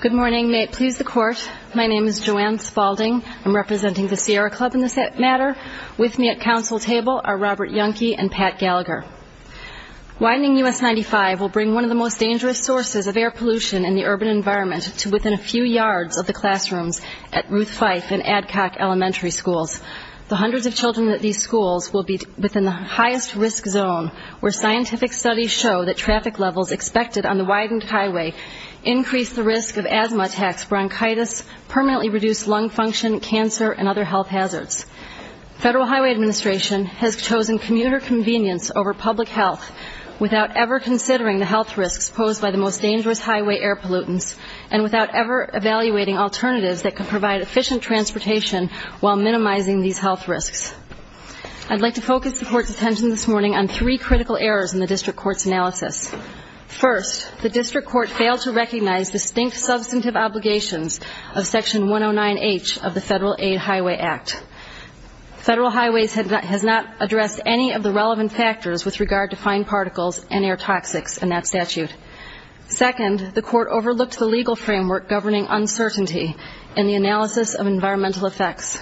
Good morning. May it please the court, my name is Joanne Spaulding. I'm representing the Sierra Club in this matter. With me at council table are Robert Youngke and Pat Gallagher. Widening US 95 will bring one of the most dangerous sources of air pollution in the urban environment to within a few yards of the classrooms at Ruth Fife and Adcock Elementary Schools. The hundreds of children at these schools will be within the highest risk zone where scientific studies show that traffic levels expected on the widened highway increase the risk of asthma attacks, bronchitis, permanently reduced lung function, cancer and other health hazards. Federal Highway Administration has chosen commuter convenience over public health without ever considering the health risks posed by the most dangerous highway air pollutants and without ever evaluating alternatives that can provide efficient transportation while minimizing these health risks. I'd like to focus the court's attention this morning on three critical errors in the district court's analysis. First, the district court failed to recognize distinct substantive obligations of Section 109H of the Federal Aid Highway Act. Federal Highways has not addressed any of the relevant factors with regard to fine particles and air toxics in that statute. Second, the court overlooked the legal framework governing uncertainty in the analysis of environmental effects.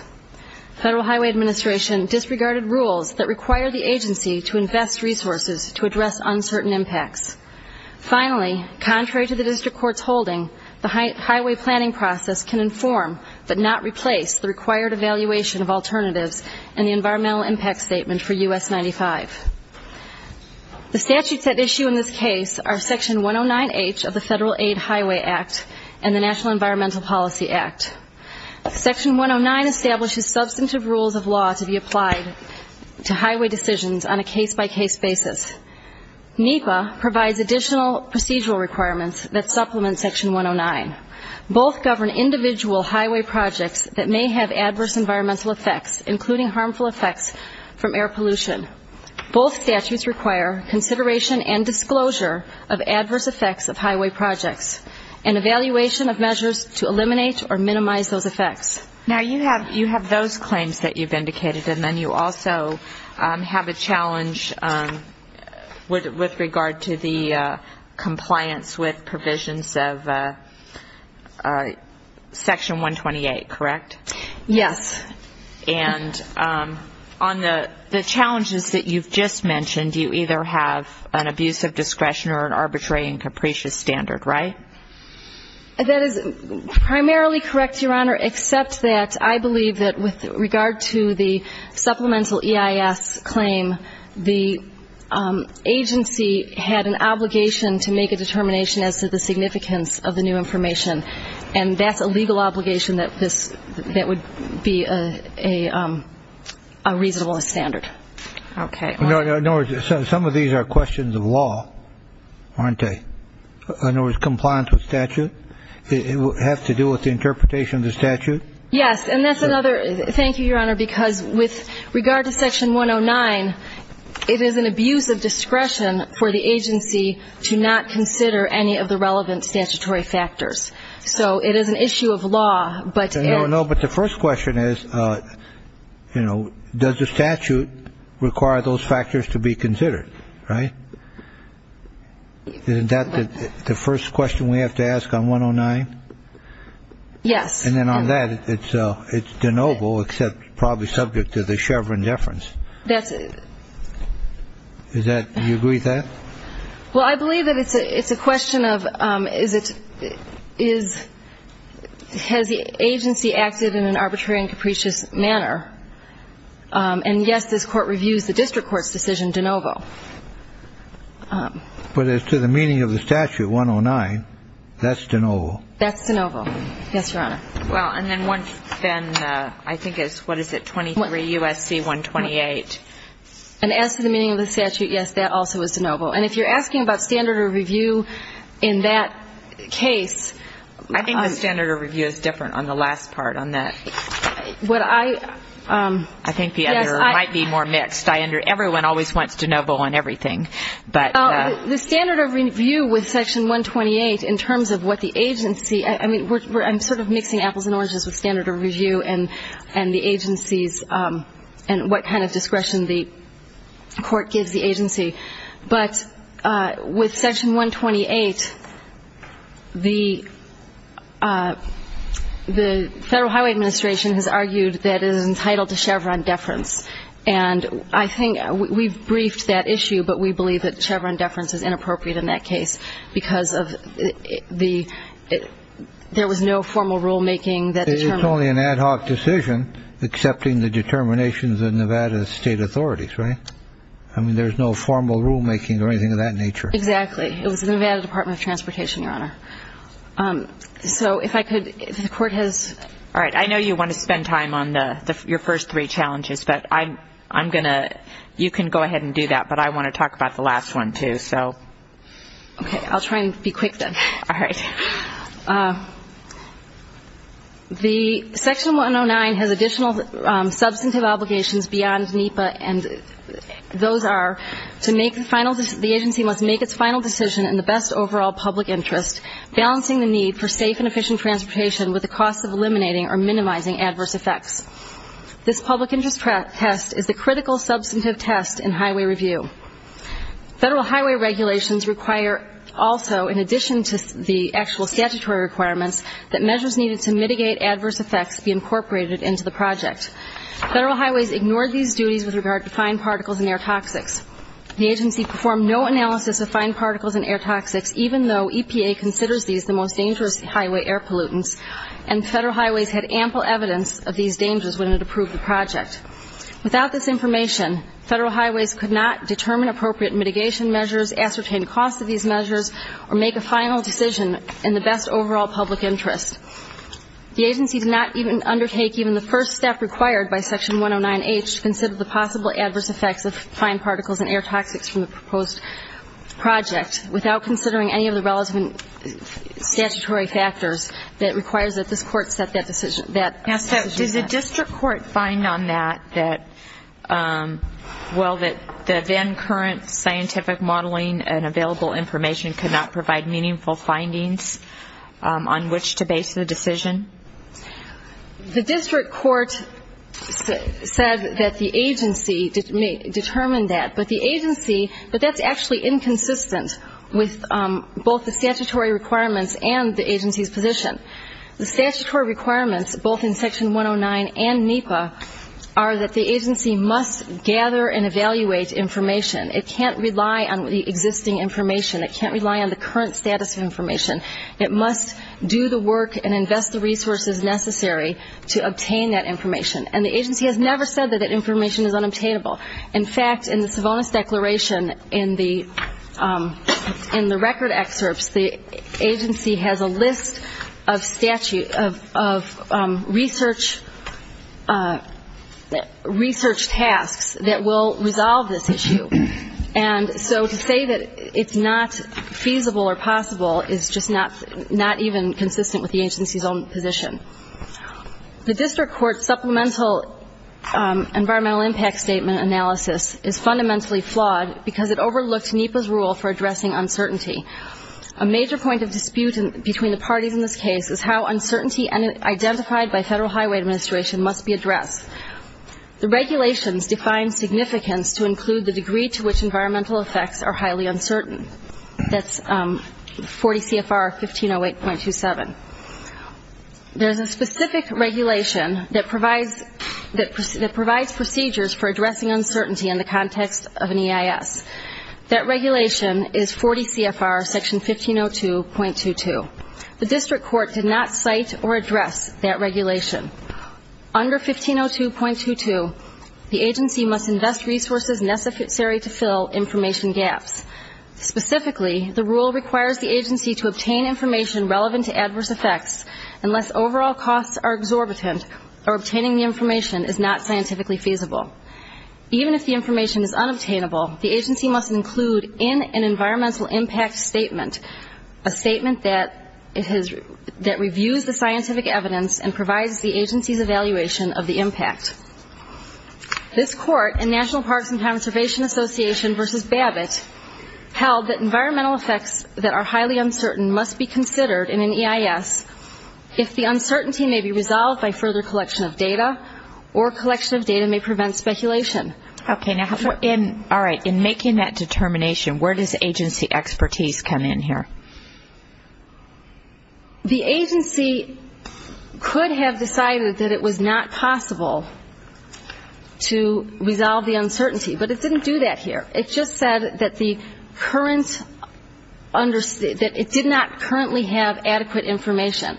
Federal Highway Administration disregarded rules that require the agency to invest resources to address uncertain impacts. Finally, contrary to the district court's holding, the highway planning process can inform but not replace the required evaluation of alternatives in the environmental impact statement for US 95. The statutes at issue in this case are Section 109H of the Federal Aid Highway Act and the National Environmental Policy Act. Section 109 establishes substantive rules of law to be applied to highway decisions on a case-by-case basis. NEPA provides additional procedural requirements that supplement Section 109. Both govern individual highway projects that may have adverse environmental effects, including harmful effects from air pollution. Both statutes require consideration and disclosure of adverse effects of highway projects and evaluation of measures to eliminate or minimize those effects. Now, you have those claims that you've indicated, and then you also have a challenge with regard to the compliance with provisions of Section 128, correct? Yes. And on the challenges that you've just mentioned, you either have an abuse of discretion or an arbitrary and capricious standard, right? That is primarily correct, Your Honor, except that I believe that with regard to the supplemental EIS claim, the agency had an obligation to make a determination as to the significance of the new information, and that's a legal obligation that would be a reasonable standard. Okay. In other words, some of these are questions of law, aren't they? In other words, compliance with statute? It would have to do with the interpretation of the statute? Yes, and that's another – thank you, Your Honor, because with regard to Section 109, it is an abuse of discretion for the agency to not consider any of the relevant statutory factors. So it is an issue of law, but – No, no, but the first question is, you know, does the statute require those factors to be considered, right? Isn't that the first question we have to ask on 109? Yes. And then on that, it's de novo, except probably subject to the Chevron deference. That's – Is that – do you agree with that? Well, I believe that it's a question of is it – is – has the agency acted in an arbitrary and capricious manner? And yes, this Court reviews the district court's decision de novo. But as to the meaning of the statute, 109, that's de novo? That's de novo. Yes, Your Honor. Well, and then once then, I think it's – what is it, 23 U.S.C. 128? And as to the meaning of the statute, yes, that also is de novo. And if you're asking about standard of review in that case – I think the standard of review is different on the last part on that. What I – yes, I – I think the other might be more mixed. I under – everyone always wants de novo on everything, but – But with section 128, the – the Federal Highway Administration has argued that it is entitled to Chevron deference. And I think we've briefed that issue, but we believe that Chevron deference is inappropriate in that case because of the – there was no formal rulemaking that determined – I mean, there's no formal rulemaking or anything of that nature. Exactly. It was the Nevada Department of Transportation, Your Honor. So if I could – if the Court has – All right. I know you want to spend time on the – your first three challenges, but I'm going to – you can go ahead and do that. But I want to talk about the last one, too, so – Okay. I'll try and be quick, then. All right. Okay. The section 109 has additional substantive obligations beyond NEPA, and those are to make the final – the agency must make its final decision in the best overall public interest, balancing the need for safe and efficient transportation with the cost of eliminating or minimizing adverse effects. This public interest test is the critical substantive test in highway review. Federal highway regulations require also, in addition to the actual statutory requirements, that measures needed to mitigate adverse effects be incorporated into the project. Federal highways ignored these duties with regard to fine particles and air toxics. The agency performed no analysis of fine particles and air toxics, even though EPA considers these the most dangerous highway air pollutants, and federal highways had ample evidence of these dangers when it approved the project. Without this information, federal highways could not determine appropriate mitigation measures, ascertain the cost of these measures, or make a final decision in the best overall public interest. The agency did not even undertake even the first step required by section 109H to consider the possible adverse effects of fine particles and air toxics from the proposed project without considering any of the relevant statutory factors that requires that this court set that decision – that – Now, so does the district court find on that that, well, that the then current scientific modeling and available information could not provide meaningful findings on which to base the decision? The district court said that the agency determined that, but the agency – but that's actually inconsistent with both the statutory requirements and the agency's position. The statutory requirements, both in section 109 and NEPA, are that the agency must gather and evaluate information. It can't rely on the existing information. It can't rely on the current status of information. It must do the work and invest the resources necessary to obtain that information. And the agency has never said that that information is unobtainable. In fact, in the Savonis Declaration, in the record excerpts, the agency has a list of research tasks that will resolve this issue. And so to say that it's not feasible or possible is just not even consistent with the agency's own position. The district court supplemental environmental impact statement analysis is fundamentally flawed because it overlooked NEPA's rule for addressing uncertainty. A major point of dispute between the parties in this case is how uncertainty identified by Federal Highway Administration must be addressed. The regulations define significance to include the degree to which environmental effects are highly uncertain. That's 40 CFR 1508.27. There's a specific regulation that provides procedures for addressing uncertainty in the context of an EIS. That regulation is 40 CFR section 1502.22. The district court did not cite or address that regulation. Under 1502.22, the agency must invest resources necessary to fill information gaps. Specifically, the rule requires the agency to obtain information relevant to adverse effects unless overall costs are exorbitant or obtaining the information is not scientifically feasible. Even if the information is unobtainable, the agency must include in an environmental impact statement a statement that reviews the scientific evidence and provides the agency's evaluation of the impact. This court in National Parks and Conservation Association v. Babbitt held that environmental effects that are highly uncertain must be considered in an EIS if the uncertainty may be resolved by further collection of data or collection of data may prevent speculation. In making that determination, where does agency expertise come in here? The agency could have decided that it was not possible to resolve the uncertainty, but it didn't do that here. It just said that it did not currently have adequate information.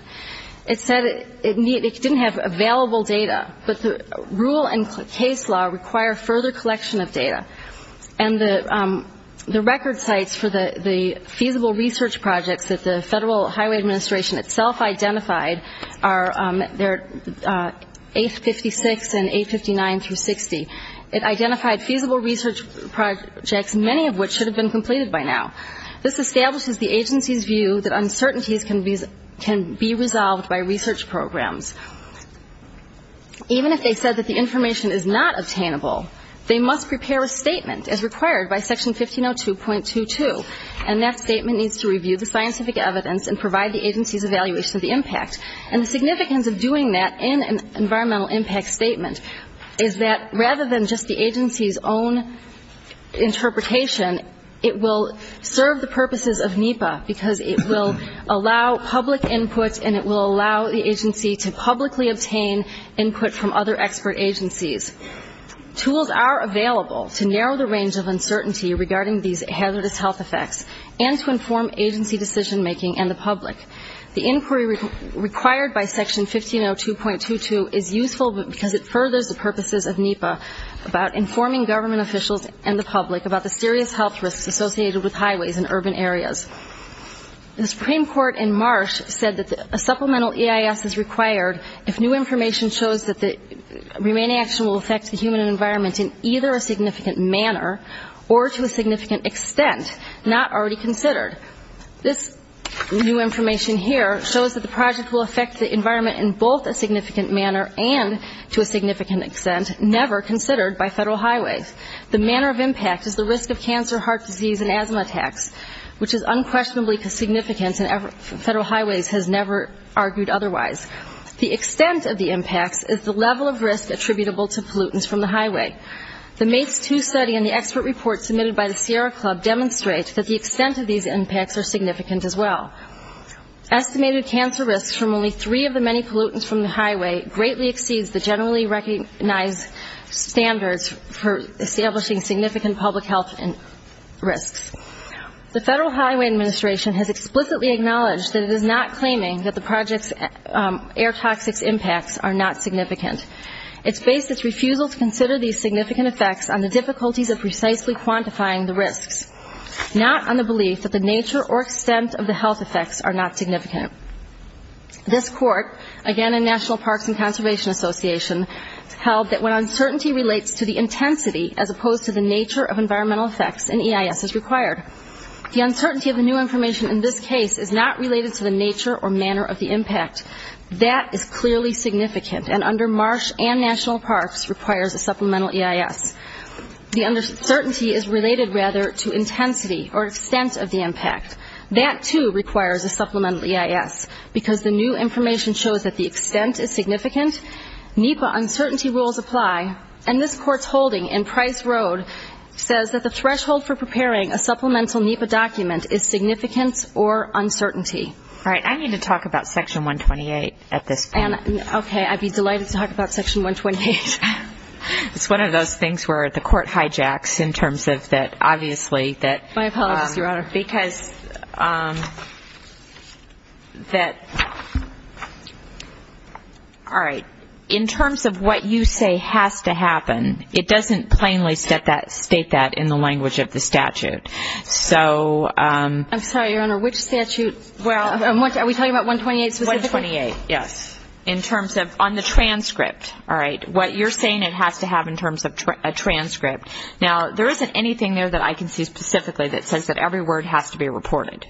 It said it didn't have available data, but the rule and case law require further collection of data. And the record sites for the feasible research projects that the Federal Highway Administration itself identified are 856 and 859 through 60. It identified feasible research projects, many of which should have been completed by now. This establishes the agency's view that uncertainties can be resolved by research programs. Even if they said that the information is not obtainable, they must prepare a statement as required by Section 1502.22, and that statement needs to review the scientific evidence and provide the agency's evaluation of the impact. And the significance of doing that in an environmental impact statement is that rather than just the agency's own interpretation, it will serve the purposes of NEPA, because it will allow public input and it will allow the agency to publicly obtain input from other expert agencies. Tools are available to narrow the range of uncertainty regarding these hazardous health effects and to inform agency decision-making and the public. The inquiry required by Section 1502.22 is useful because it furthers the purposes of NEPA about informing government officials and the public about the serious health risks associated with highways and urban areas. The Supreme Court in March said that a supplemental EIS is required if new information shows that the remaining action will affect the human environment in either a significant manner or to a significant extent not already considered. This new information here shows that the project will affect the environment in both a significant manner and to a significant extent never considered by federal highways. The manner of impact is the risk of cancer, heart disease, and asthma attacks, which is unquestionably significant and federal highways has never argued otherwise. The extent of the impacts is the level of risk attributable to pollutants from the highway. The MATES II study and the expert report submitted by the Sierra Club demonstrate that the extent of these impacts are significant as well. Estimated cancer risks from only three of the many pollutants from the highway greatly exceeds the generally recognized standards for establishing significant public health risks. The Federal Highway Administration has explicitly acknowledged that it is not claiming that the project's air toxics impacts are not significant. It's based its refusal to consider these significant effects on the difficulties of precisely quantifying the risks, not on the belief that the nature or extent of the health effects are not significant. This court, again a National Parks and Conservation Association, held that when uncertainty relates to the intensity as opposed to the nature of environmental effects, an EIS is required. The uncertainty of the new information in this case is not related to the nature or manner of the impact. That is clearly significant and under Marsh and National Parks requires a supplemental EIS. The uncertainty is related, rather, to intensity or extent of the impact. That, too, requires a supplemental EIS because the new information shows that the extent is significant, NEPA uncertainty rules apply, and this court's holding in Price Road says that the threshold for preparing a supplemental NEPA document is significance or uncertainty. All right. I need to talk about Section 128 at this point. Okay. I'd be delighted to talk about Section 128. It's one of those things where the court hijacks in terms of that, obviously, that... My apologies, Your Honor. ...because that, all right, in terms of what you say has to happen, it doesn't plainly state that in the language of the statute. So... I'm sorry, Your Honor, which statute? Are we talking about 128 specifically? 128, yes. In terms of on the transcript, all right, what you're saying it has to have in terms of a transcript. Now, there isn't anything there that I can see specifically that says that every word has to be reported.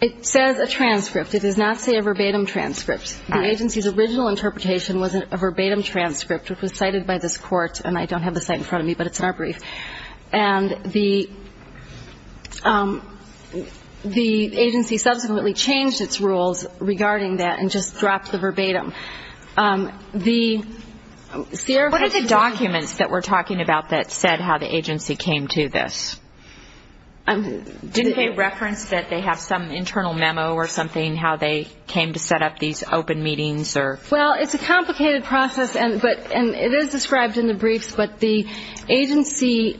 It says a transcript. It does not say a verbatim transcript. The agency's original interpretation was a verbatim transcript, which was cited by this court, and I don't have the cite in front of me, but it's in our brief. And the agency subsequently changed its rules regarding that and just dropped the verbatim. What are the documents that we're talking about that said how the agency came to this? Didn't they reference that they have some internal memo or something, how they came to set up these open meetings or... Well, it's a complicated process, and it is described in the briefs, but the agency,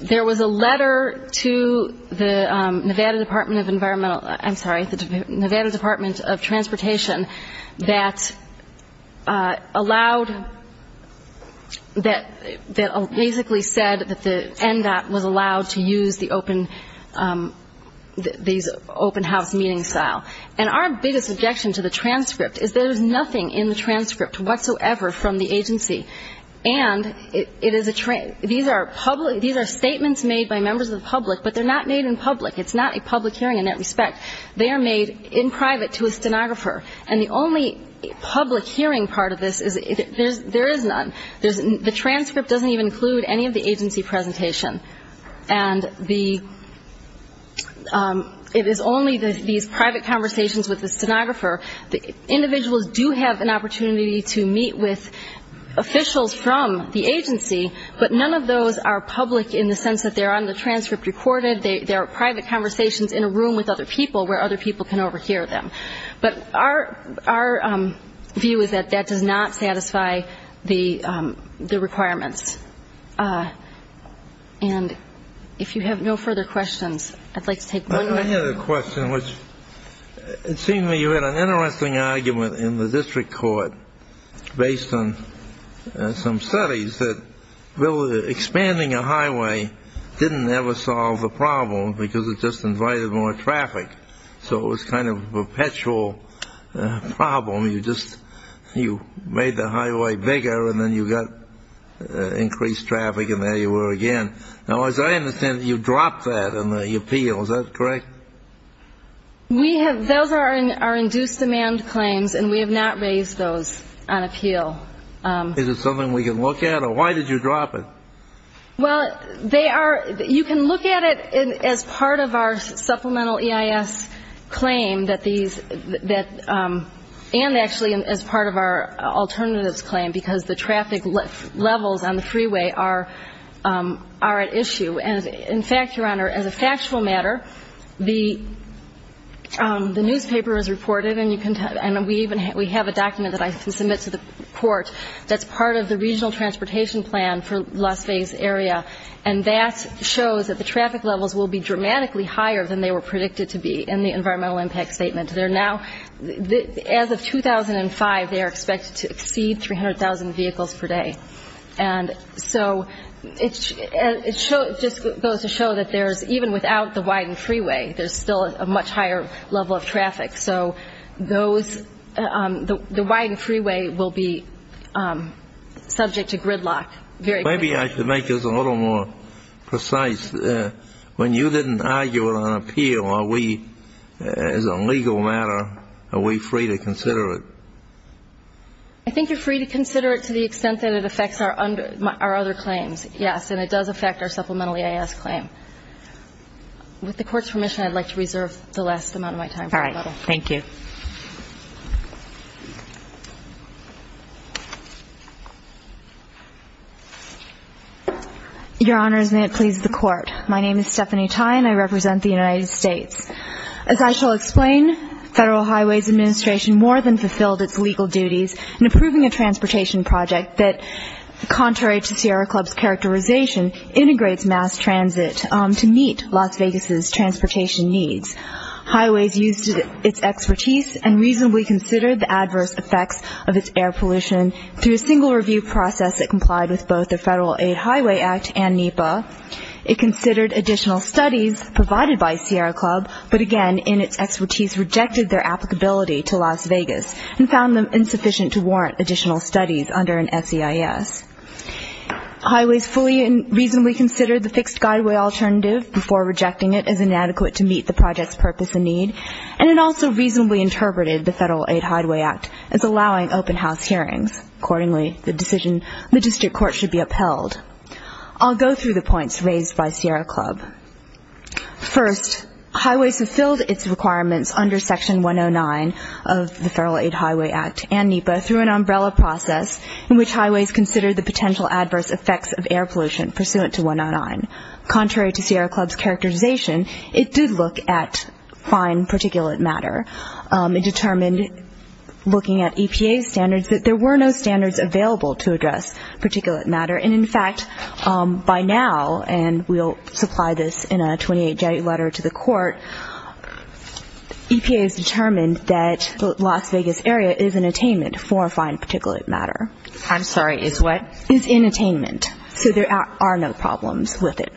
there was a letter to the Nevada Department of Environmental, I'm sorry, the Nevada Department of Transportation that allowed, that basically said that the NDOT was allowed to use the open, these open house meeting style. And our biggest objection to the transcript is there's nothing in the transcript whatsoever from the agency. And it is a, these are statements made by members of the public, but they're not made in public. It's not a public hearing in that respect. They are made in private to a stenographer. And the only public hearing part of this is there is none. The transcript doesn't even include any of the agency presentation. And the, it is only these private conversations with the stenographer. Individuals do have an opportunity to meet with officials from the agency, but none of those are public in the sense that they're on the transcript recorded. They are private conversations in a room with other people where other people can overhear them. But our view is that that does not satisfy the requirements. And if you have no further questions, I'd like to take one more. I had a question which, it seemed to me you had an interesting argument in the district court based on some studies that expanding a highway didn't ever solve the problem because it just invited more traffic. So it was kind of a perpetual problem. You just, you made the highway bigger, and then you got increased traffic, and there you were again. Now, as I understand it, you dropped that in the appeal. Is that correct? We have, those are our induced demand claims, and we have not raised those on appeal. Is it something we can look at, or why did you drop it? Well, they are, you can look at it as part of our supplemental EIS claim that these, and actually as part of our alternatives claim because the traffic levels on the freeway are at issue. And in fact, Your Honor, as a factual matter, the newspaper has reported, and we have a document that I can submit to the court that's part of the regional transportation plan for Las Vegas area, and that shows that the traffic levels will be dramatically higher than they were predicted to be in the environmental impact statement. They're now, as of 2005, they are expected to exceed 300,000 vehicles per day. And so it just goes to show that there's, even without the widened freeway, there's still a much higher level of traffic. So those, the widened freeway will be subject to gridlock. Maybe I could make this a little more precise. When you didn't argue it on appeal, are we, as a legal matter, are we free to consider it? I think you're free to consider it to the extent that it affects our other claims, yes, and it does affect our supplemental EIS claim. With the court's permission, I'd like to reserve the last amount of my time. All right. Thank you. Your Honors, may it please the court. My name is Stephanie Tai, and I represent the United States. As I shall explain, Federal Highways Administration more than fulfilled its legal duties in approving a transportation project that, contrary to Sierra Club's characterization, integrates mass transit to meet Las Vegas' transportation needs. Highways used its expertise and reasonably considered the adverse effects of its air pollution through a single review process that complied with both the Federal-Aid Highway Act and NEPA. It considered additional studies provided by Sierra Club, but again, in its expertise, rejected their applicability to Las Vegas and found them insufficient to warrant additional studies under an SEIS. Highways fully and reasonably considered the fixed guideway alternative before rejecting it as inadequate to meet the project's purpose and need, and it also reasonably interpreted the Federal-Aid Highway Act as allowing open house hearings. Accordingly, the decision of the district court should be upheld. I'll go through the points raised by Sierra Club. First, Highways fulfilled its requirements under Section 109 of the Federal-Aid Highway Act and NEPA through an umbrella process in which Highways considered the potential adverse effects of air pollution pursuant to 109. Contrary to Sierra Club's characterization, it did look at fine particulate matter. It determined looking at EPA's standards that there were no standards available to address particulate matter, and in fact, by now, and we'll supply this in a 28-day letter to the court, EPA has determined that the Las Vegas area is in attainment for fine particulate matter. I'm sorry, is what? Is in attainment, so there are no problems with it.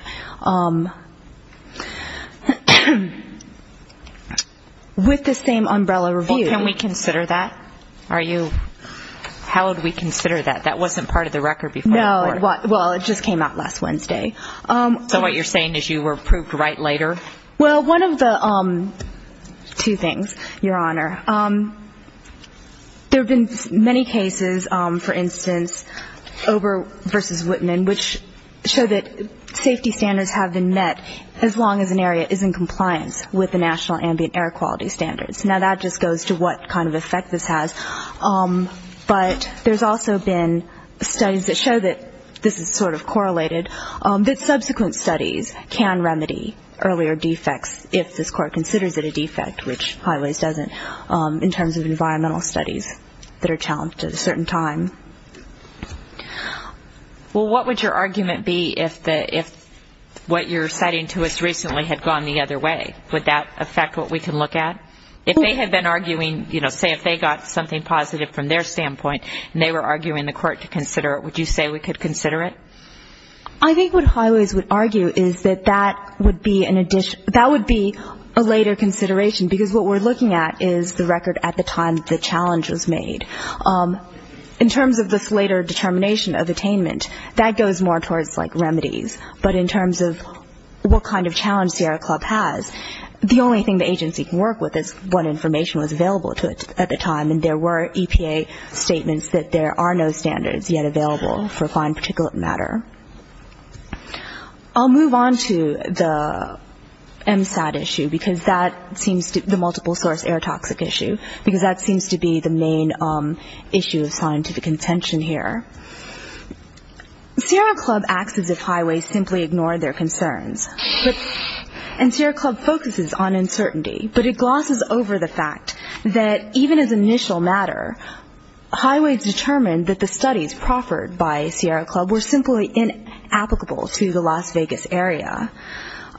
With the same umbrella review. Can we consider that? How would we consider that? That wasn't part of the record before the court. No, well, it just came out last Wednesday. So what you're saying is you were approved right later? Well, one of the two things, Your Honor. There have been many cases, for instance, over versus Whitman, which show that safety standards have been met as long as an area is in compliance with the National Ambient Air Quality Standards. Now, that just goes to what kind of effect this has. But there's also been studies that show that this is sort of correlated, that subsequent studies can remedy earlier defects if this court considers it a defect, which Highways doesn't, in terms of environmental studies that are challenged at a certain time. Well, what would your argument be if what you're citing to us recently had gone the other way? Would that affect what we can look at? If they had been arguing, you know, say if they got something positive from their standpoint and they were arguing the court to consider it, would you say we could consider it? I think what Highways would argue is that that would be a later consideration because what we're looking at is the record at the time the challenge was made. In terms of this later determination of attainment, that goes more towards like remedies. But in terms of what kind of challenge Sierra Club has, the only thing the agency can work with is what information was available to it at the time, and there were EPA statements that there are no standards yet available for fine particulate matter. I'll move on to the MSAT issue because that seems to be the multiple source air toxic issue because that seems to be the main issue of scientific contention here. Sierra Club acts as if Highways simply ignored their concerns, and Sierra Club focuses on uncertainty, but it glosses over the fact that even as initial matter, Highways determined that the studies proffered by Sierra Club were simply inapplicable to the Las Vegas area.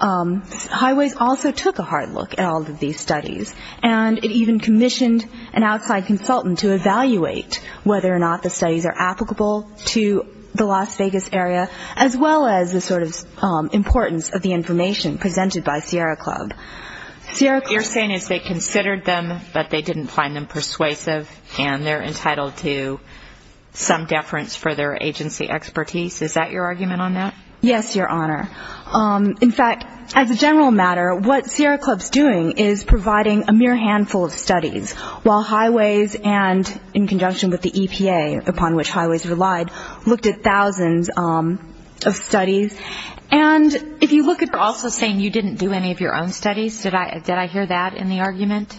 Highways also took a hard look at all of these studies, and it even commissioned an outside consultant to evaluate whether or not the studies are applicable to the Las Vegas area, as well as the sort of importance of the information presented by Sierra Club. What you're saying is they considered them, but they didn't find them persuasive, and they're entitled to some deference for their agency expertise. Is that your argument on that? Yes, Your Honor. In fact, as a general matter, what Sierra Club's doing is providing a mere handful of studies, while Highways and in conjunction with the EPA, upon which Highways relied, looked at thousands of studies. And if you look at also saying you didn't do any of your own studies, did I hear that in the argument?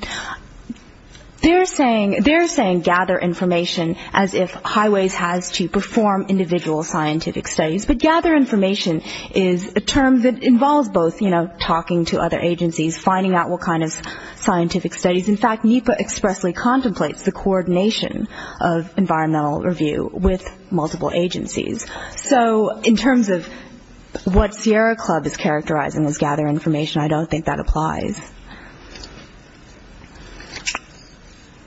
They're saying gather information as if Highways has to perform individual scientific studies, but gather information is a term that involves both, you know, talking to other agencies, finding out what kind of scientific studies. In fact, NEPA expressly contemplates the coordination of environmental review with multiple agencies. So in terms of what Sierra Club is characterizing as gather information, I don't think that applies.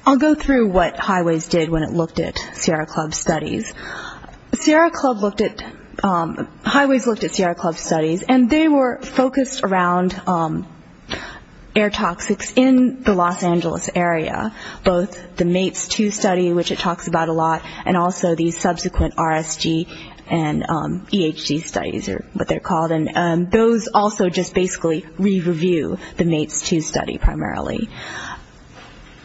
I'll go through what Highways did when it looked at Sierra Club's studies. Sierra Club looked at, Highways looked at Sierra Club's studies, and they were focused around air toxics in the Los Angeles area, both the MATES 2 study, which it talks about a lot, and also the subsequent RSG and EHG studies are what they're called. And those also just basically re-review the MATES 2 study primarily.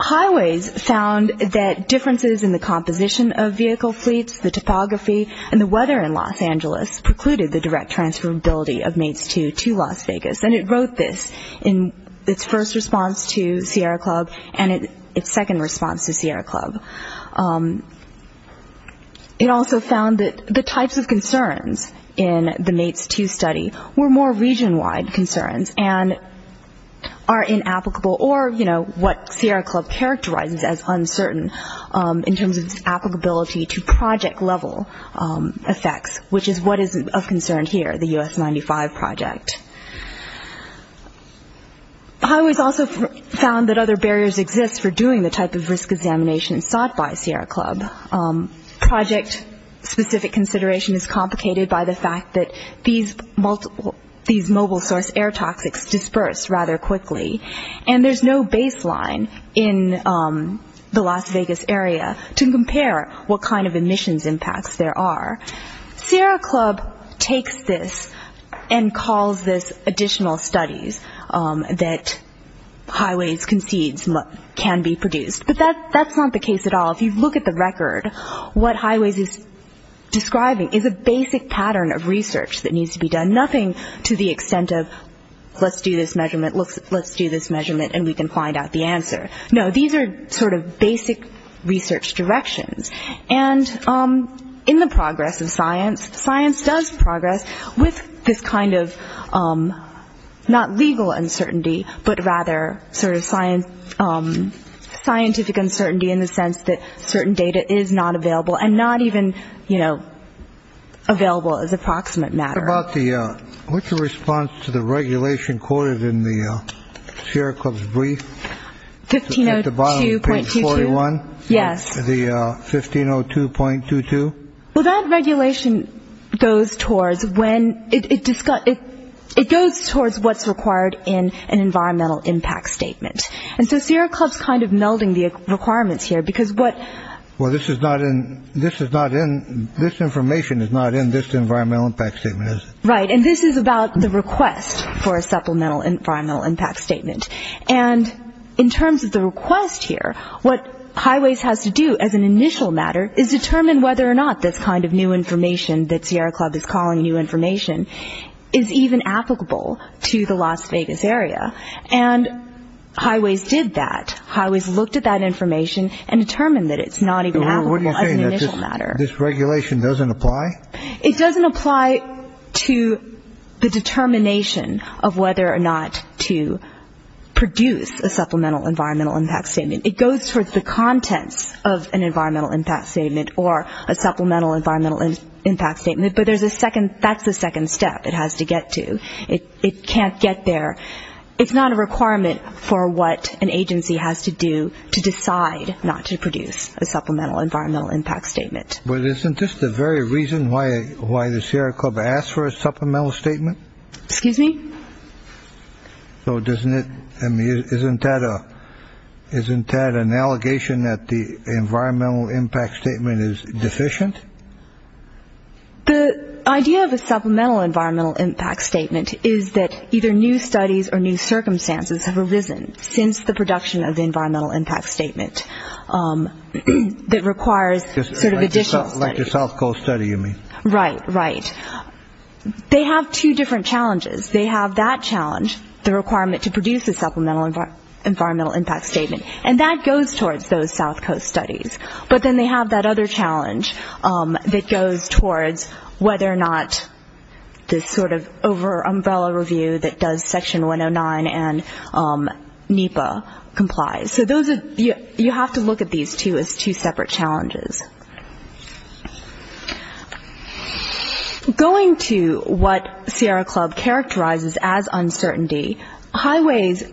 Highways found that differences in the composition of vehicle fleets, the topography, and the weather in Los Angeles precluded the direct transferability of MATES 2 to Las Vegas. And it wrote this in its first response to Sierra Club and its second response to Sierra Club. It also found that the types of concerns in the MATES 2 study were more region-wide concerns and are inapplicable or, you know, what Sierra Club characterizes as uncertain in terms of its applicability to project-level effects, which is what is of concern here, the US-95 project. Highways also found that other barriers exist for doing the type of risk examination sought by Sierra Club. Project-specific consideration is complicated by the fact that these mobile source air toxics disperse rather quickly, and there's no baseline in the Las Vegas area to compare what kind of emissions impacts there are. Sierra Club takes this and calls this additional studies that Highways concedes can be produced. But that's not the case at all. If you look at the record, what Highways is describing is a basic pattern of research that needs to be done, nothing to the extent of let's do this measurement, let's do this measurement, and we can find out the answer. No, these are sort of basic research directions. And in the progress of science, science does progress with this kind of not legal uncertainty, but rather sort of scientific uncertainty in the sense that certain data is not available and not even, you know, available as approximate matter. What about the, what's the response to the regulation quoted in the Sierra Club's brief? 1502.22. At the bottom of page 41? Yes. The 1502.22? Well, that regulation goes towards when, it goes towards what's required in an environmental impact statement. And so Sierra Club's kind of melding the requirements here because what. Well, this is not in, this is not in, this information is not in this environmental impact statement, is it? Right, and this is about the request for a supplemental environmental impact statement. And in terms of the request here, what Highways has to do as an initial matter is determine whether or not this kind of new information that Sierra Club is calling new information is even applicable to the Las Vegas area, and Highways did that. Highways looked at that information and determined that it's not even applicable as an initial matter. What do you mean? This regulation doesn't apply? It doesn't apply to the determination of whether or not to produce a supplemental environmental impact statement. It goes towards the contents of an environmental impact statement or a supplemental environmental impact statement, but there's a second, that's the second step it has to get to. It can't get there. It's not a requirement for what an agency has to do to decide not to produce a supplemental environmental impact statement. But isn't this the very reason why the Sierra Club asked for a supplemental statement? Excuse me? So isn't that an allegation that the environmental impact statement is deficient? The idea of a supplemental environmental impact statement is that either new studies or new circumstances have arisen since the production of the environmental impact statement that requires additional studies. Like the South Coast study, you mean? Right, right. They have two different challenges. They have that challenge, the requirement to produce a supplemental environmental impact statement, and that goes towards those South Coast studies. But then they have that other challenge that goes towards whether or not this sort of over-umbrella review that does Section 109 and NEPA complies. So you have to look at these two as two separate challenges. Going to what Sierra Club characterizes as uncertainty, Highways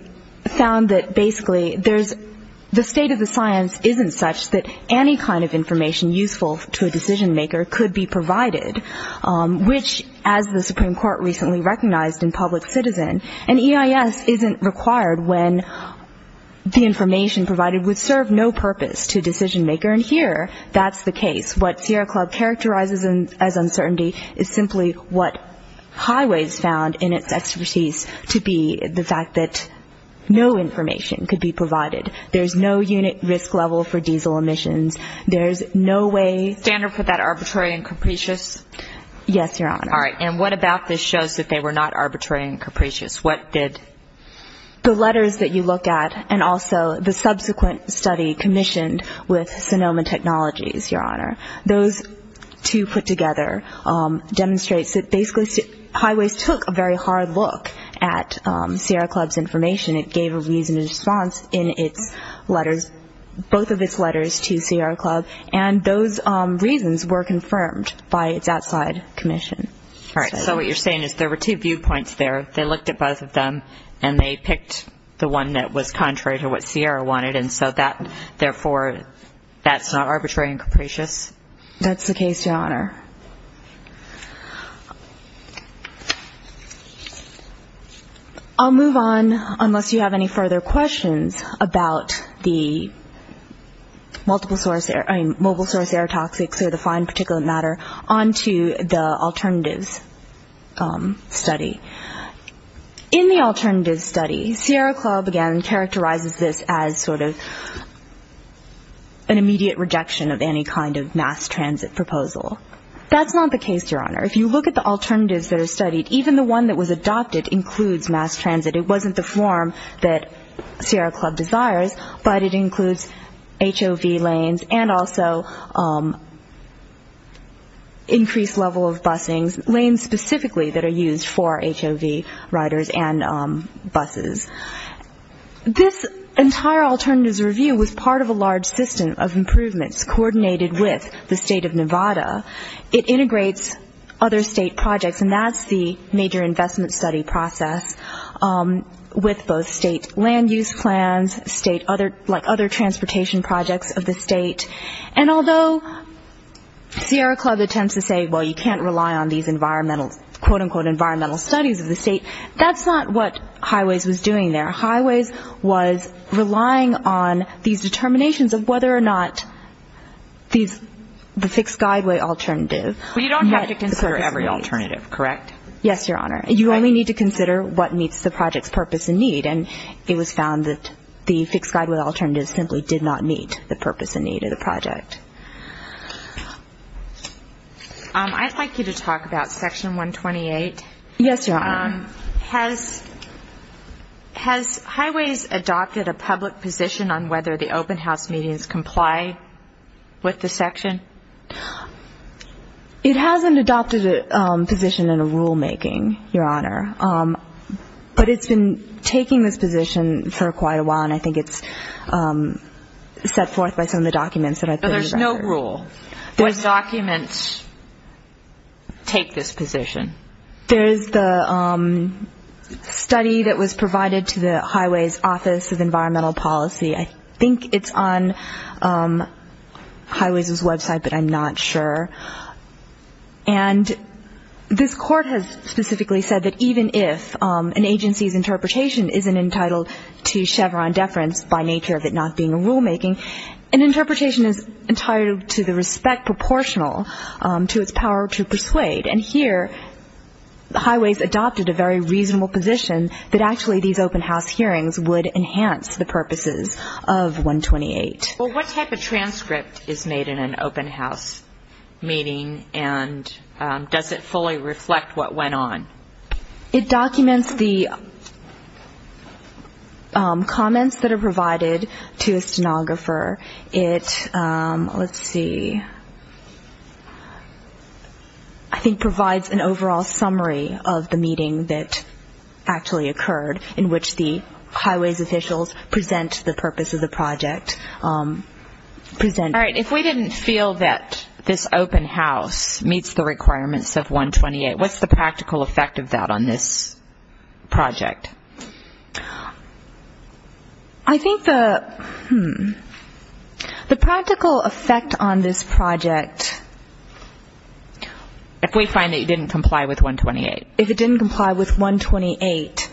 found that basically the state of the science isn't such that any kind of information useful to a decision-maker could be provided, which, as the Supreme Court recently recognized in Public Citizen, an EIS isn't required when the information provided would serve no purpose to a decision-maker. And here that's the case. What Sierra Club characterizes as uncertainty is simply what Highways found in its expertise to be the fact that no information could be provided. There's no unit risk level for diesel emissions. There's no way. Standard for that arbitrary and capricious? Yes, Your Honor. All right. And what about this shows that they were not arbitrary and capricious? What did? The letters that you look at and also the subsequent study commissioned with Sonoma Technologies, Your Honor. Those two put together demonstrate that basically Highways took a very hard look at Sierra Club's information. It gave a reasoned response in its letters, both of its letters to Sierra Club, and those reasons were confirmed by its outside commission. All right. So what you're saying is there were two viewpoints there. They looked at both of them, and they picked the one that was contrary to what Sierra wanted, and so therefore that's not arbitrary and capricious? That's the case, Your Honor. I'll move on, unless you have any further questions, about the mobile source air toxics or the fine particulate matter onto the alternatives study. In the alternatives study, Sierra Club, again, characterizes this as sort of an immediate rejection of any kind of mass transit proposal. That's not the case, Your Honor. If you look at the alternatives that are studied, even the one that was adopted includes mass transit. It wasn't the form that Sierra Club desires, but it includes HOV lanes and also increased level of busings, lanes specifically that are used for HOV riders and buses. This entire alternatives review was part of a large system of improvements coordinated with the state of Nevada. It integrates other state projects, and that's the major investment study process. With both state land use plans, like other transportation projects of the state, and although Sierra Club attempts to say, well, you can't rely on these quote, unquote, environmental studies of the state, that's not what Highways was doing there. Highways was relying on these determinations of whether or not the fixed guideway alternative met the purpose needs. But you don't have to consider every alternative, correct? Yes, Your Honor. You only need to consider what meets the project's purpose and need, and it was found that the fixed guideway alternative simply did not meet the purpose and need of the project. I'd like you to talk about Section 128. Yes, Your Honor. Has Highways adopted a public position on whether the open house meetings comply with the section? It hasn't adopted a position in a rulemaking, Your Honor. But it's been taking this position for quite a while, and I think it's set forth by some of the documents that I've put together. But there's no rule. What documents take this position? There's the study that was provided to the Highways Office of Environmental Policy. I think it's on Highways' website, but I'm not sure. And this court has specifically said that even if an agency's interpretation isn't entitled to Chevron deference by nature of it not being a rulemaking, an interpretation is entitled to the respect proportional to its power to persuade. And here Highways adopted a very reasonable position that actually these open house hearings would enhance the purposes of 128. Well, what type of transcript is made in an open house meeting, and does it fully reflect what went on? It documents the comments that are provided to a stenographer. It, let's see, I think provides an overall summary of the meeting that actually occurred, in which the Highways officials present the purpose of the project. All right. If we didn't feel that this open house meets the requirements of 128, what's the practical effect of that on this project? I think the, hmm, the practical effect on this project. If we find that you didn't comply with 128. If it didn't comply with 128,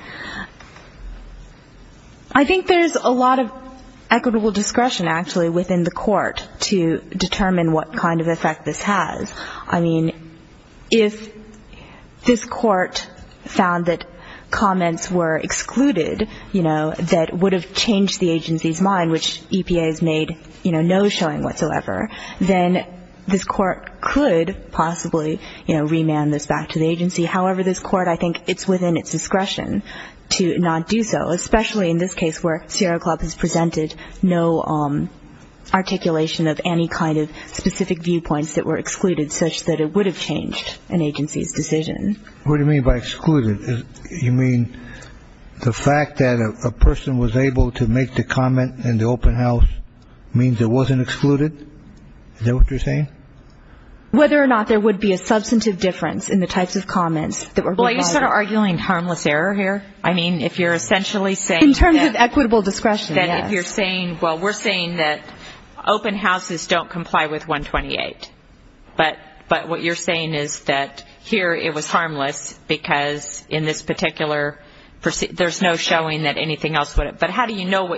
I think there's a lot of equitable discretion, actually, within the court to determine what kind of effect this has. I mean, if this court found that comments were excluded, you know, that would have changed the agency's mind, which EPA has made, you know, no showing whatsoever, then this court could possibly, you know, remand this back to the agency. However, this court, I think it's within its discretion to not do so, especially in this case where Sierra Club has presented no articulation of any kind of specific viewpoints that were excluded such that it would have changed an agency's decision. What do you mean by excluded? You mean the fact that a person was able to make the comment in the open house means it wasn't excluded? Is that what you're saying? Whether or not there would be a substantive difference in the types of comments that were provided. Well, are you sort of arguing harmless error here? I mean, if you're essentially saying that. In terms of equitable discretion, yes. Well, we're saying that open houses don't comply with 128. But what you're saying is that here it was harmless because in this particular, there's no showing that anything else would have. But how do you know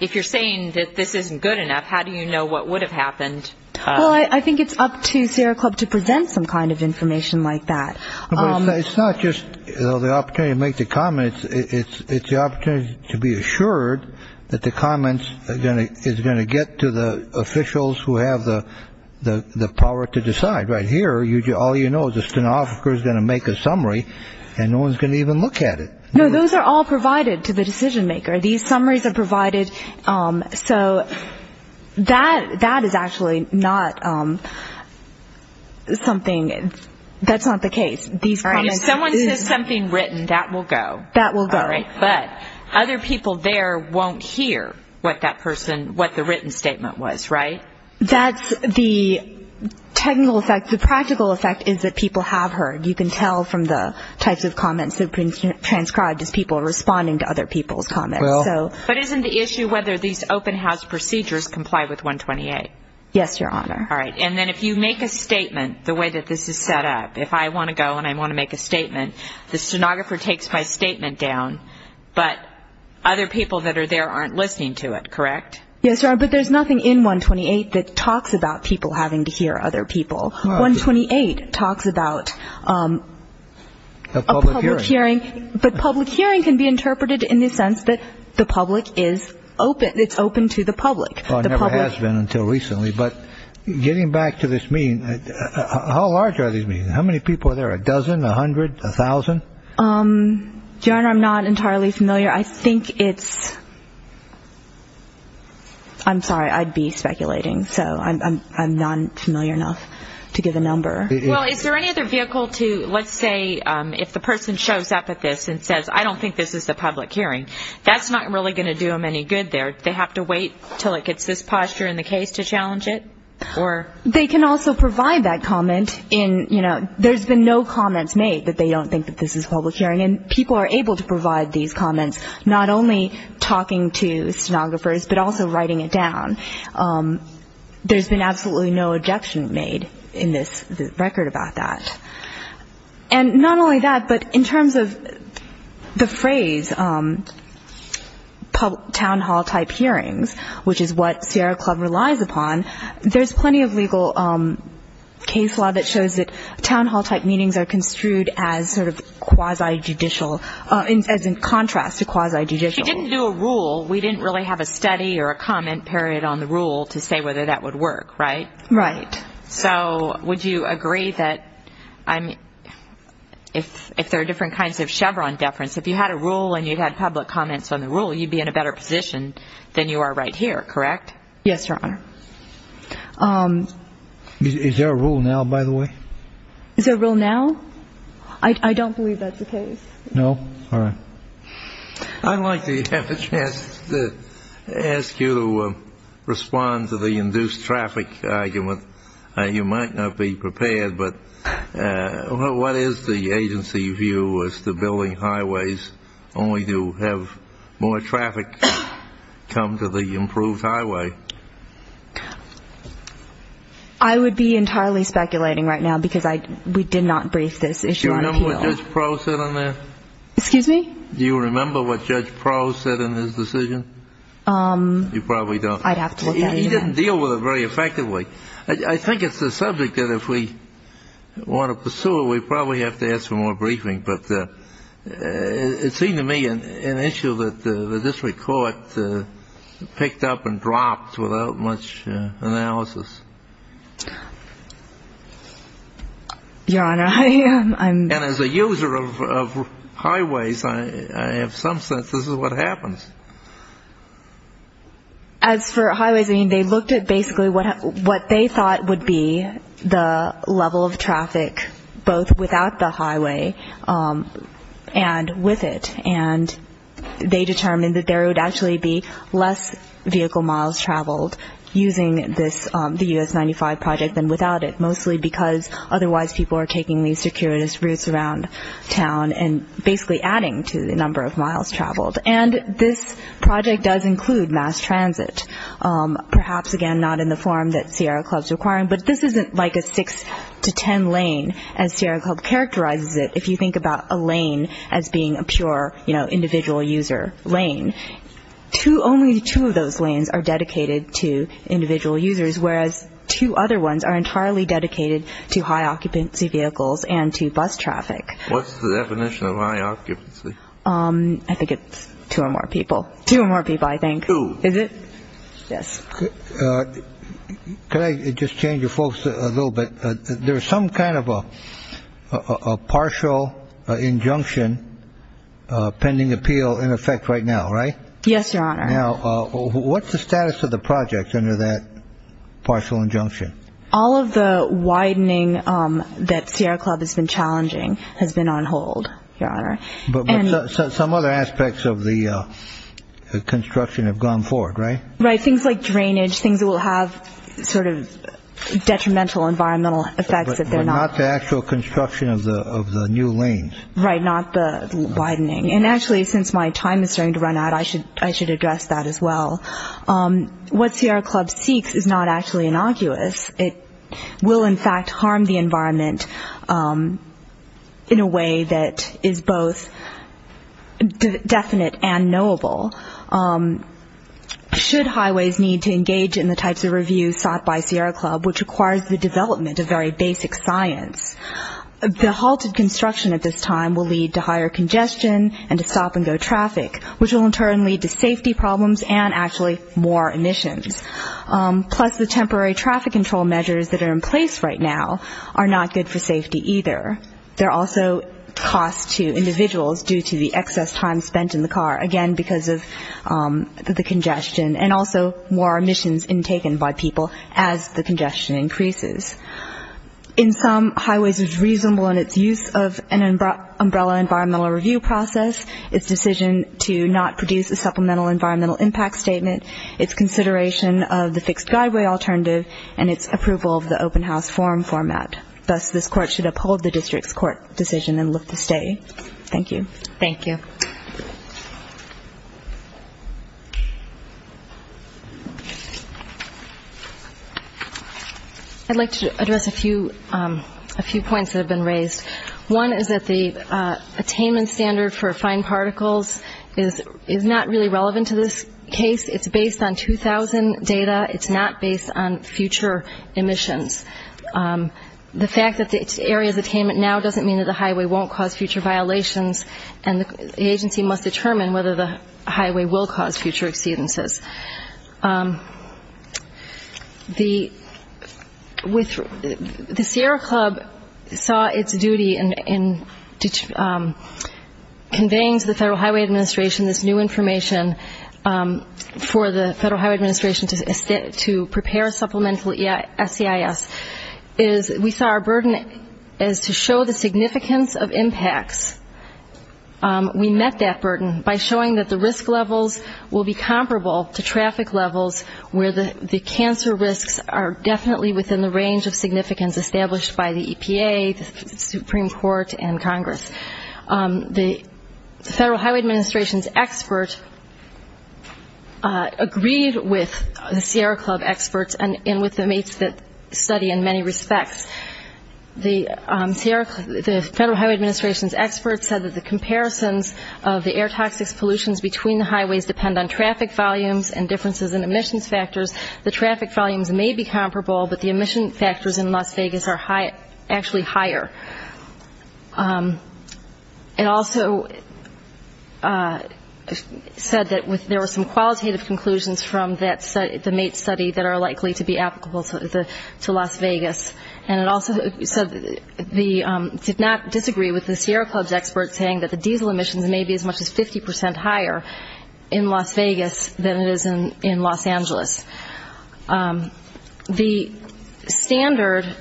if you're saying that this isn't good enough, how do you know what would have happened? Well, I think it's up to Sierra Club to present some kind of information like that. It's not just the opportunity to make the comments. It's the opportunity to be assured that the comments is going to get to the officials who have the power to decide. Right here, all you know is the stenographer is going to make a summary, and no one is going to even look at it. No, those are all provided to the decision maker. These summaries are provided. So that is actually not something that's not the case. If someone says something written, that will go. That will go. But other people there won't hear what that person, what the written statement was, right? That's the technical effect. The practical effect is that people have heard. You can tell from the types of comments that have been transcribed as people responding to other people's comments. But isn't the issue whether these open house procedures comply with 128? Yes, Your Honor. All right. And then if you make a statement the way that this is set up, if I want to go and I want to make a statement, the stenographer takes my statement down, but other people that are there aren't listening to it, correct? Yes, Your Honor, but there's nothing in 128 that talks about people having to hear other people. 128 talks about a public hearing. But public hearing can be interpreted in the sense that the public is open. It's open to the public. Well, it never has been until recently. But getting back to this meeting, how large are these meetings? How many people are there, a dozen, a hundred, a thousand? Your Honor, I'm not entirely familiar. I think it's ‑‑ I'm sorry, I'd be speculating, so I'm not familiar enough to give a number. Well, is there any other vehicle to, let's say, if the person shows up at this and says, I don't think this is a public hearing, that's not really going to do them any good there. Do they have to wait until it gets this posture in the case to challenge it? They can also provide that comment in, you know, there's been no comments made that they don't think that this is a public hearing. And people are able to provide these comments, not only talking to stenographers, but also writing it down. There's been absolutely no objection made in this record about that. And not only that, but in terms of the phrase town hall type hearings, which is what Sierra Club relies upon, there's plenty of legal case law that shows that town hall type meetings are construed as sort of quasi‑judicial, as in contrast to quasi‑judicial. If you didn't do a rule, we didn't really have a study or a comment period on the rule to say whether that would work, right? Right. So would you agree that if there are different kinds of Chevron deference, if you had a rule and you had public comments on the rule, you'd be in a better position than you are right here, correct? Yes, Your Honor. Is there a rule now, by the way? Is there a rule now? I don't believe that's the case. No? All right. I'd like to have a chance to ask you to respond to the induced traffic argument. You might not be prepared, but what is the agency view as to building highways only to have more traffic come to the improved highway? I would be entirely speculating right now because we did not brief this issue on appeal. Do you remember what Judge Proh said on that? Excuse me? Do you remember what Judge Proh said in his decision? You probably don't. I'd have to look at it again. He didn't deal with it very effectively. I think it's the subject that if we want to pursue it, we probably have to ask for more briefing. But it seemed to me an issue that this court picked up and dropped without much analysis. Your Honor, I'm — And as a user of highways, I have some sense this is what happens. As for highways, I mean, they looked at basically what they thought would be the level of traffic both without the highway and with it. And they determined that there would actually be less vehicle miles traveled using the US-95 project than without it, mostly because otherwise people are taking these circuitous routes around town and basically adding to the number of miles traveled. And this project does include mass transit, perhaps, again, not in the form that Sierra Club is requiring. But this isn't like a six-to-ten lane, as Sierra Club characterizes it, if you think about a lane as being a pure, you know, individual user lane. Only two of those lanes are dedicated to individual users, whereas two other ones are entirely dedicated to high-occupancy vehicles and to bus traffic. What's the definition of high-occupancy? I think it's two or more people. Two or more people, I think. Two. Is it? Yes. Could I just change your folks a little bit? There is some kind of a partial injunction pending appeal in effect right now, right? Yes, Your Honor. Now, what's the status of the project under that partial injunction? All of the widening that Sierra Club has been challenging has been on hold, Your Honor. But some other aspects of the construction have gone forward, right? Right. Things like drainage, things that will have sort of detrimental environmental effects if they're not. But not the actual construction of the new lanes. Right, not the widening. And actually, since my time is starting to run out, I should address that as well. What Sierra Club seeks is not actually innocuous. It will, in fact, harm the environment in a way that is both definite and knowable. Should highways need to engage in the types of reviews sought by Sierra Club, which requires the development of very basic science, the halted construction at this time will lead to higher congestion and to stop-and-go traffic, which will in turn lead to safety problems and actually more emissions. Plus, the temporary traffic control measures that are in place right now are not good for safety either. There are also costs to individuals due to the excess time spent in the car, again, because of the congestion, and also more emissions intaken by people as the congestion increases. In sum, highways is reasonable in its use of an umbrella environmental review process, its decision to not produce a supplemental environmental impact statement, its consideration of the fixed guideway alternative, and its approval of the open house forum format. Thus, this court should uphold the district's court decision and look to stay. Thank you. Thank you. I'd like to address a few points that have been raised. One is that the attainment standard for fine particles is not really relevant to this case. It's based on 2000 data. It's not based on future emissions. The fact that it's areas attainment now doesn't mean that the highway won't cause future violations, and the agency must determine whether the highway will cause future exceedances. The Sierra Club saw its duty in conveying to the Federal Highway Administration this new information for the Federal Highway Administration to prepare a supplemental SEIS. We saw our burden as to show the significance of impacts. We met that burden by showing that the risk levels will be comparable to traffic levels where the cancer risks are definitely within the range of significance established by the EPA, the Supreme Court, and Congress. The Federal Highway Administration's expert agreed with the Sierra Club experts and with the mates that study in many respects. The Federal Highway Administration's expert said that the comparisons of the air toxics pollutions between the highways depend on traffic volumes and differences in emissions factors. The traffic volumes may be comparable, but the emission factors in Las Vegas are actually higher. It also said that there were some qualitative conclusions from the mate study that are likely to be applicable to Las Vegas. And it also said it did not disagree with the Sierra Club's experts saying that the diesel emissions may be as much as 50 percent higher in Las Vegas than it is in Los Angeles. The standard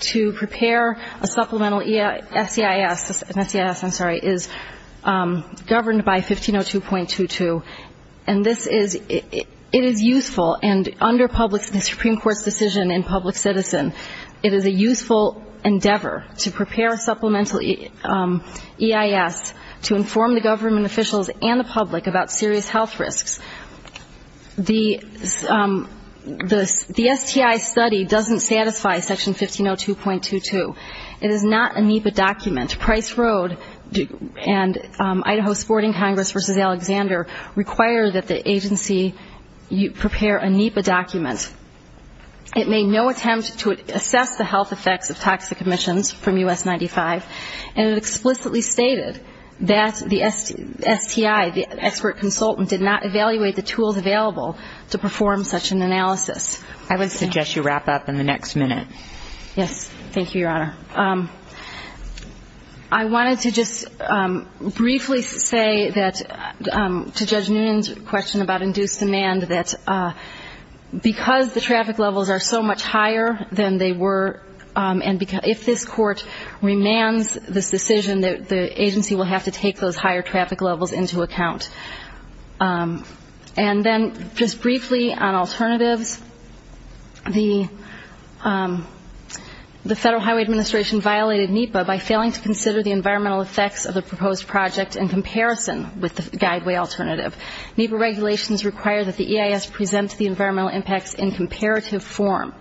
to prepare a supplemental SEIS is governed by 1502.22. And this is useful, and under the Supreme Court's decision in public citizen, it is a useful endeavor to prepare a supplemental EIS to inform the government officials and the public about serious health risks. The STI study doesn't satisfy section 1502.22. It is not a NEPA document. Price Road and Idaho Sporting Congress v. Alexander require that the agency prepare a NEPA document. It made no attempt to assess the health effects of toxic emissions from U.S. 95, and it explicitly stated that the STI, the expert consultant, did not evaluate the tools available to perform such an analysis. I would suggest you wrap up in the next minute. Yes. Thank you, Your Honor. I wanted to just briefly say that, to Judge Noonan's question about induced demand, that because the traffic levels are so much higher than they were, and if this Court remands this decision, the agency will have to take those higher traffic levels into account. And then just briefly on alternatives, the Federal Highway Administration violated NEPA by failing to consider the environmental effects of the proposed project in comparison with the guideway alternative. NEPA regulations require that the EIS present the environmental impacts in comparative form.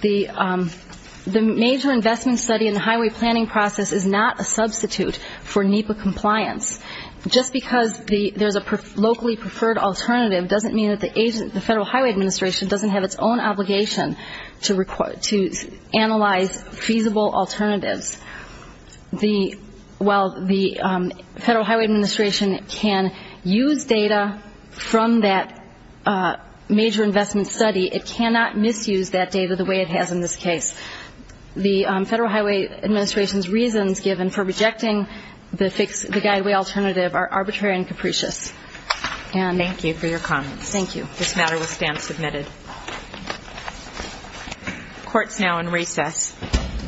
The major investment study in the highway planning process is not a substitute for NEPA compliance. Just because there's a locally preferred alternative doesn't mean that the Federal Highway Administration doesn't have its own obligation to analyze feasible alternatives. While the Federal Highway Administration can use data from that major investment study, it cannot misuse that data the way it has in this case. The Federal Highway Administration's reasons given for rejecting the guideway alternative are arbitrary and capricious. Thank you for your comments. Thank you. This matter will stand submitted. Court's now in recess. All rise. The Court is adjourned.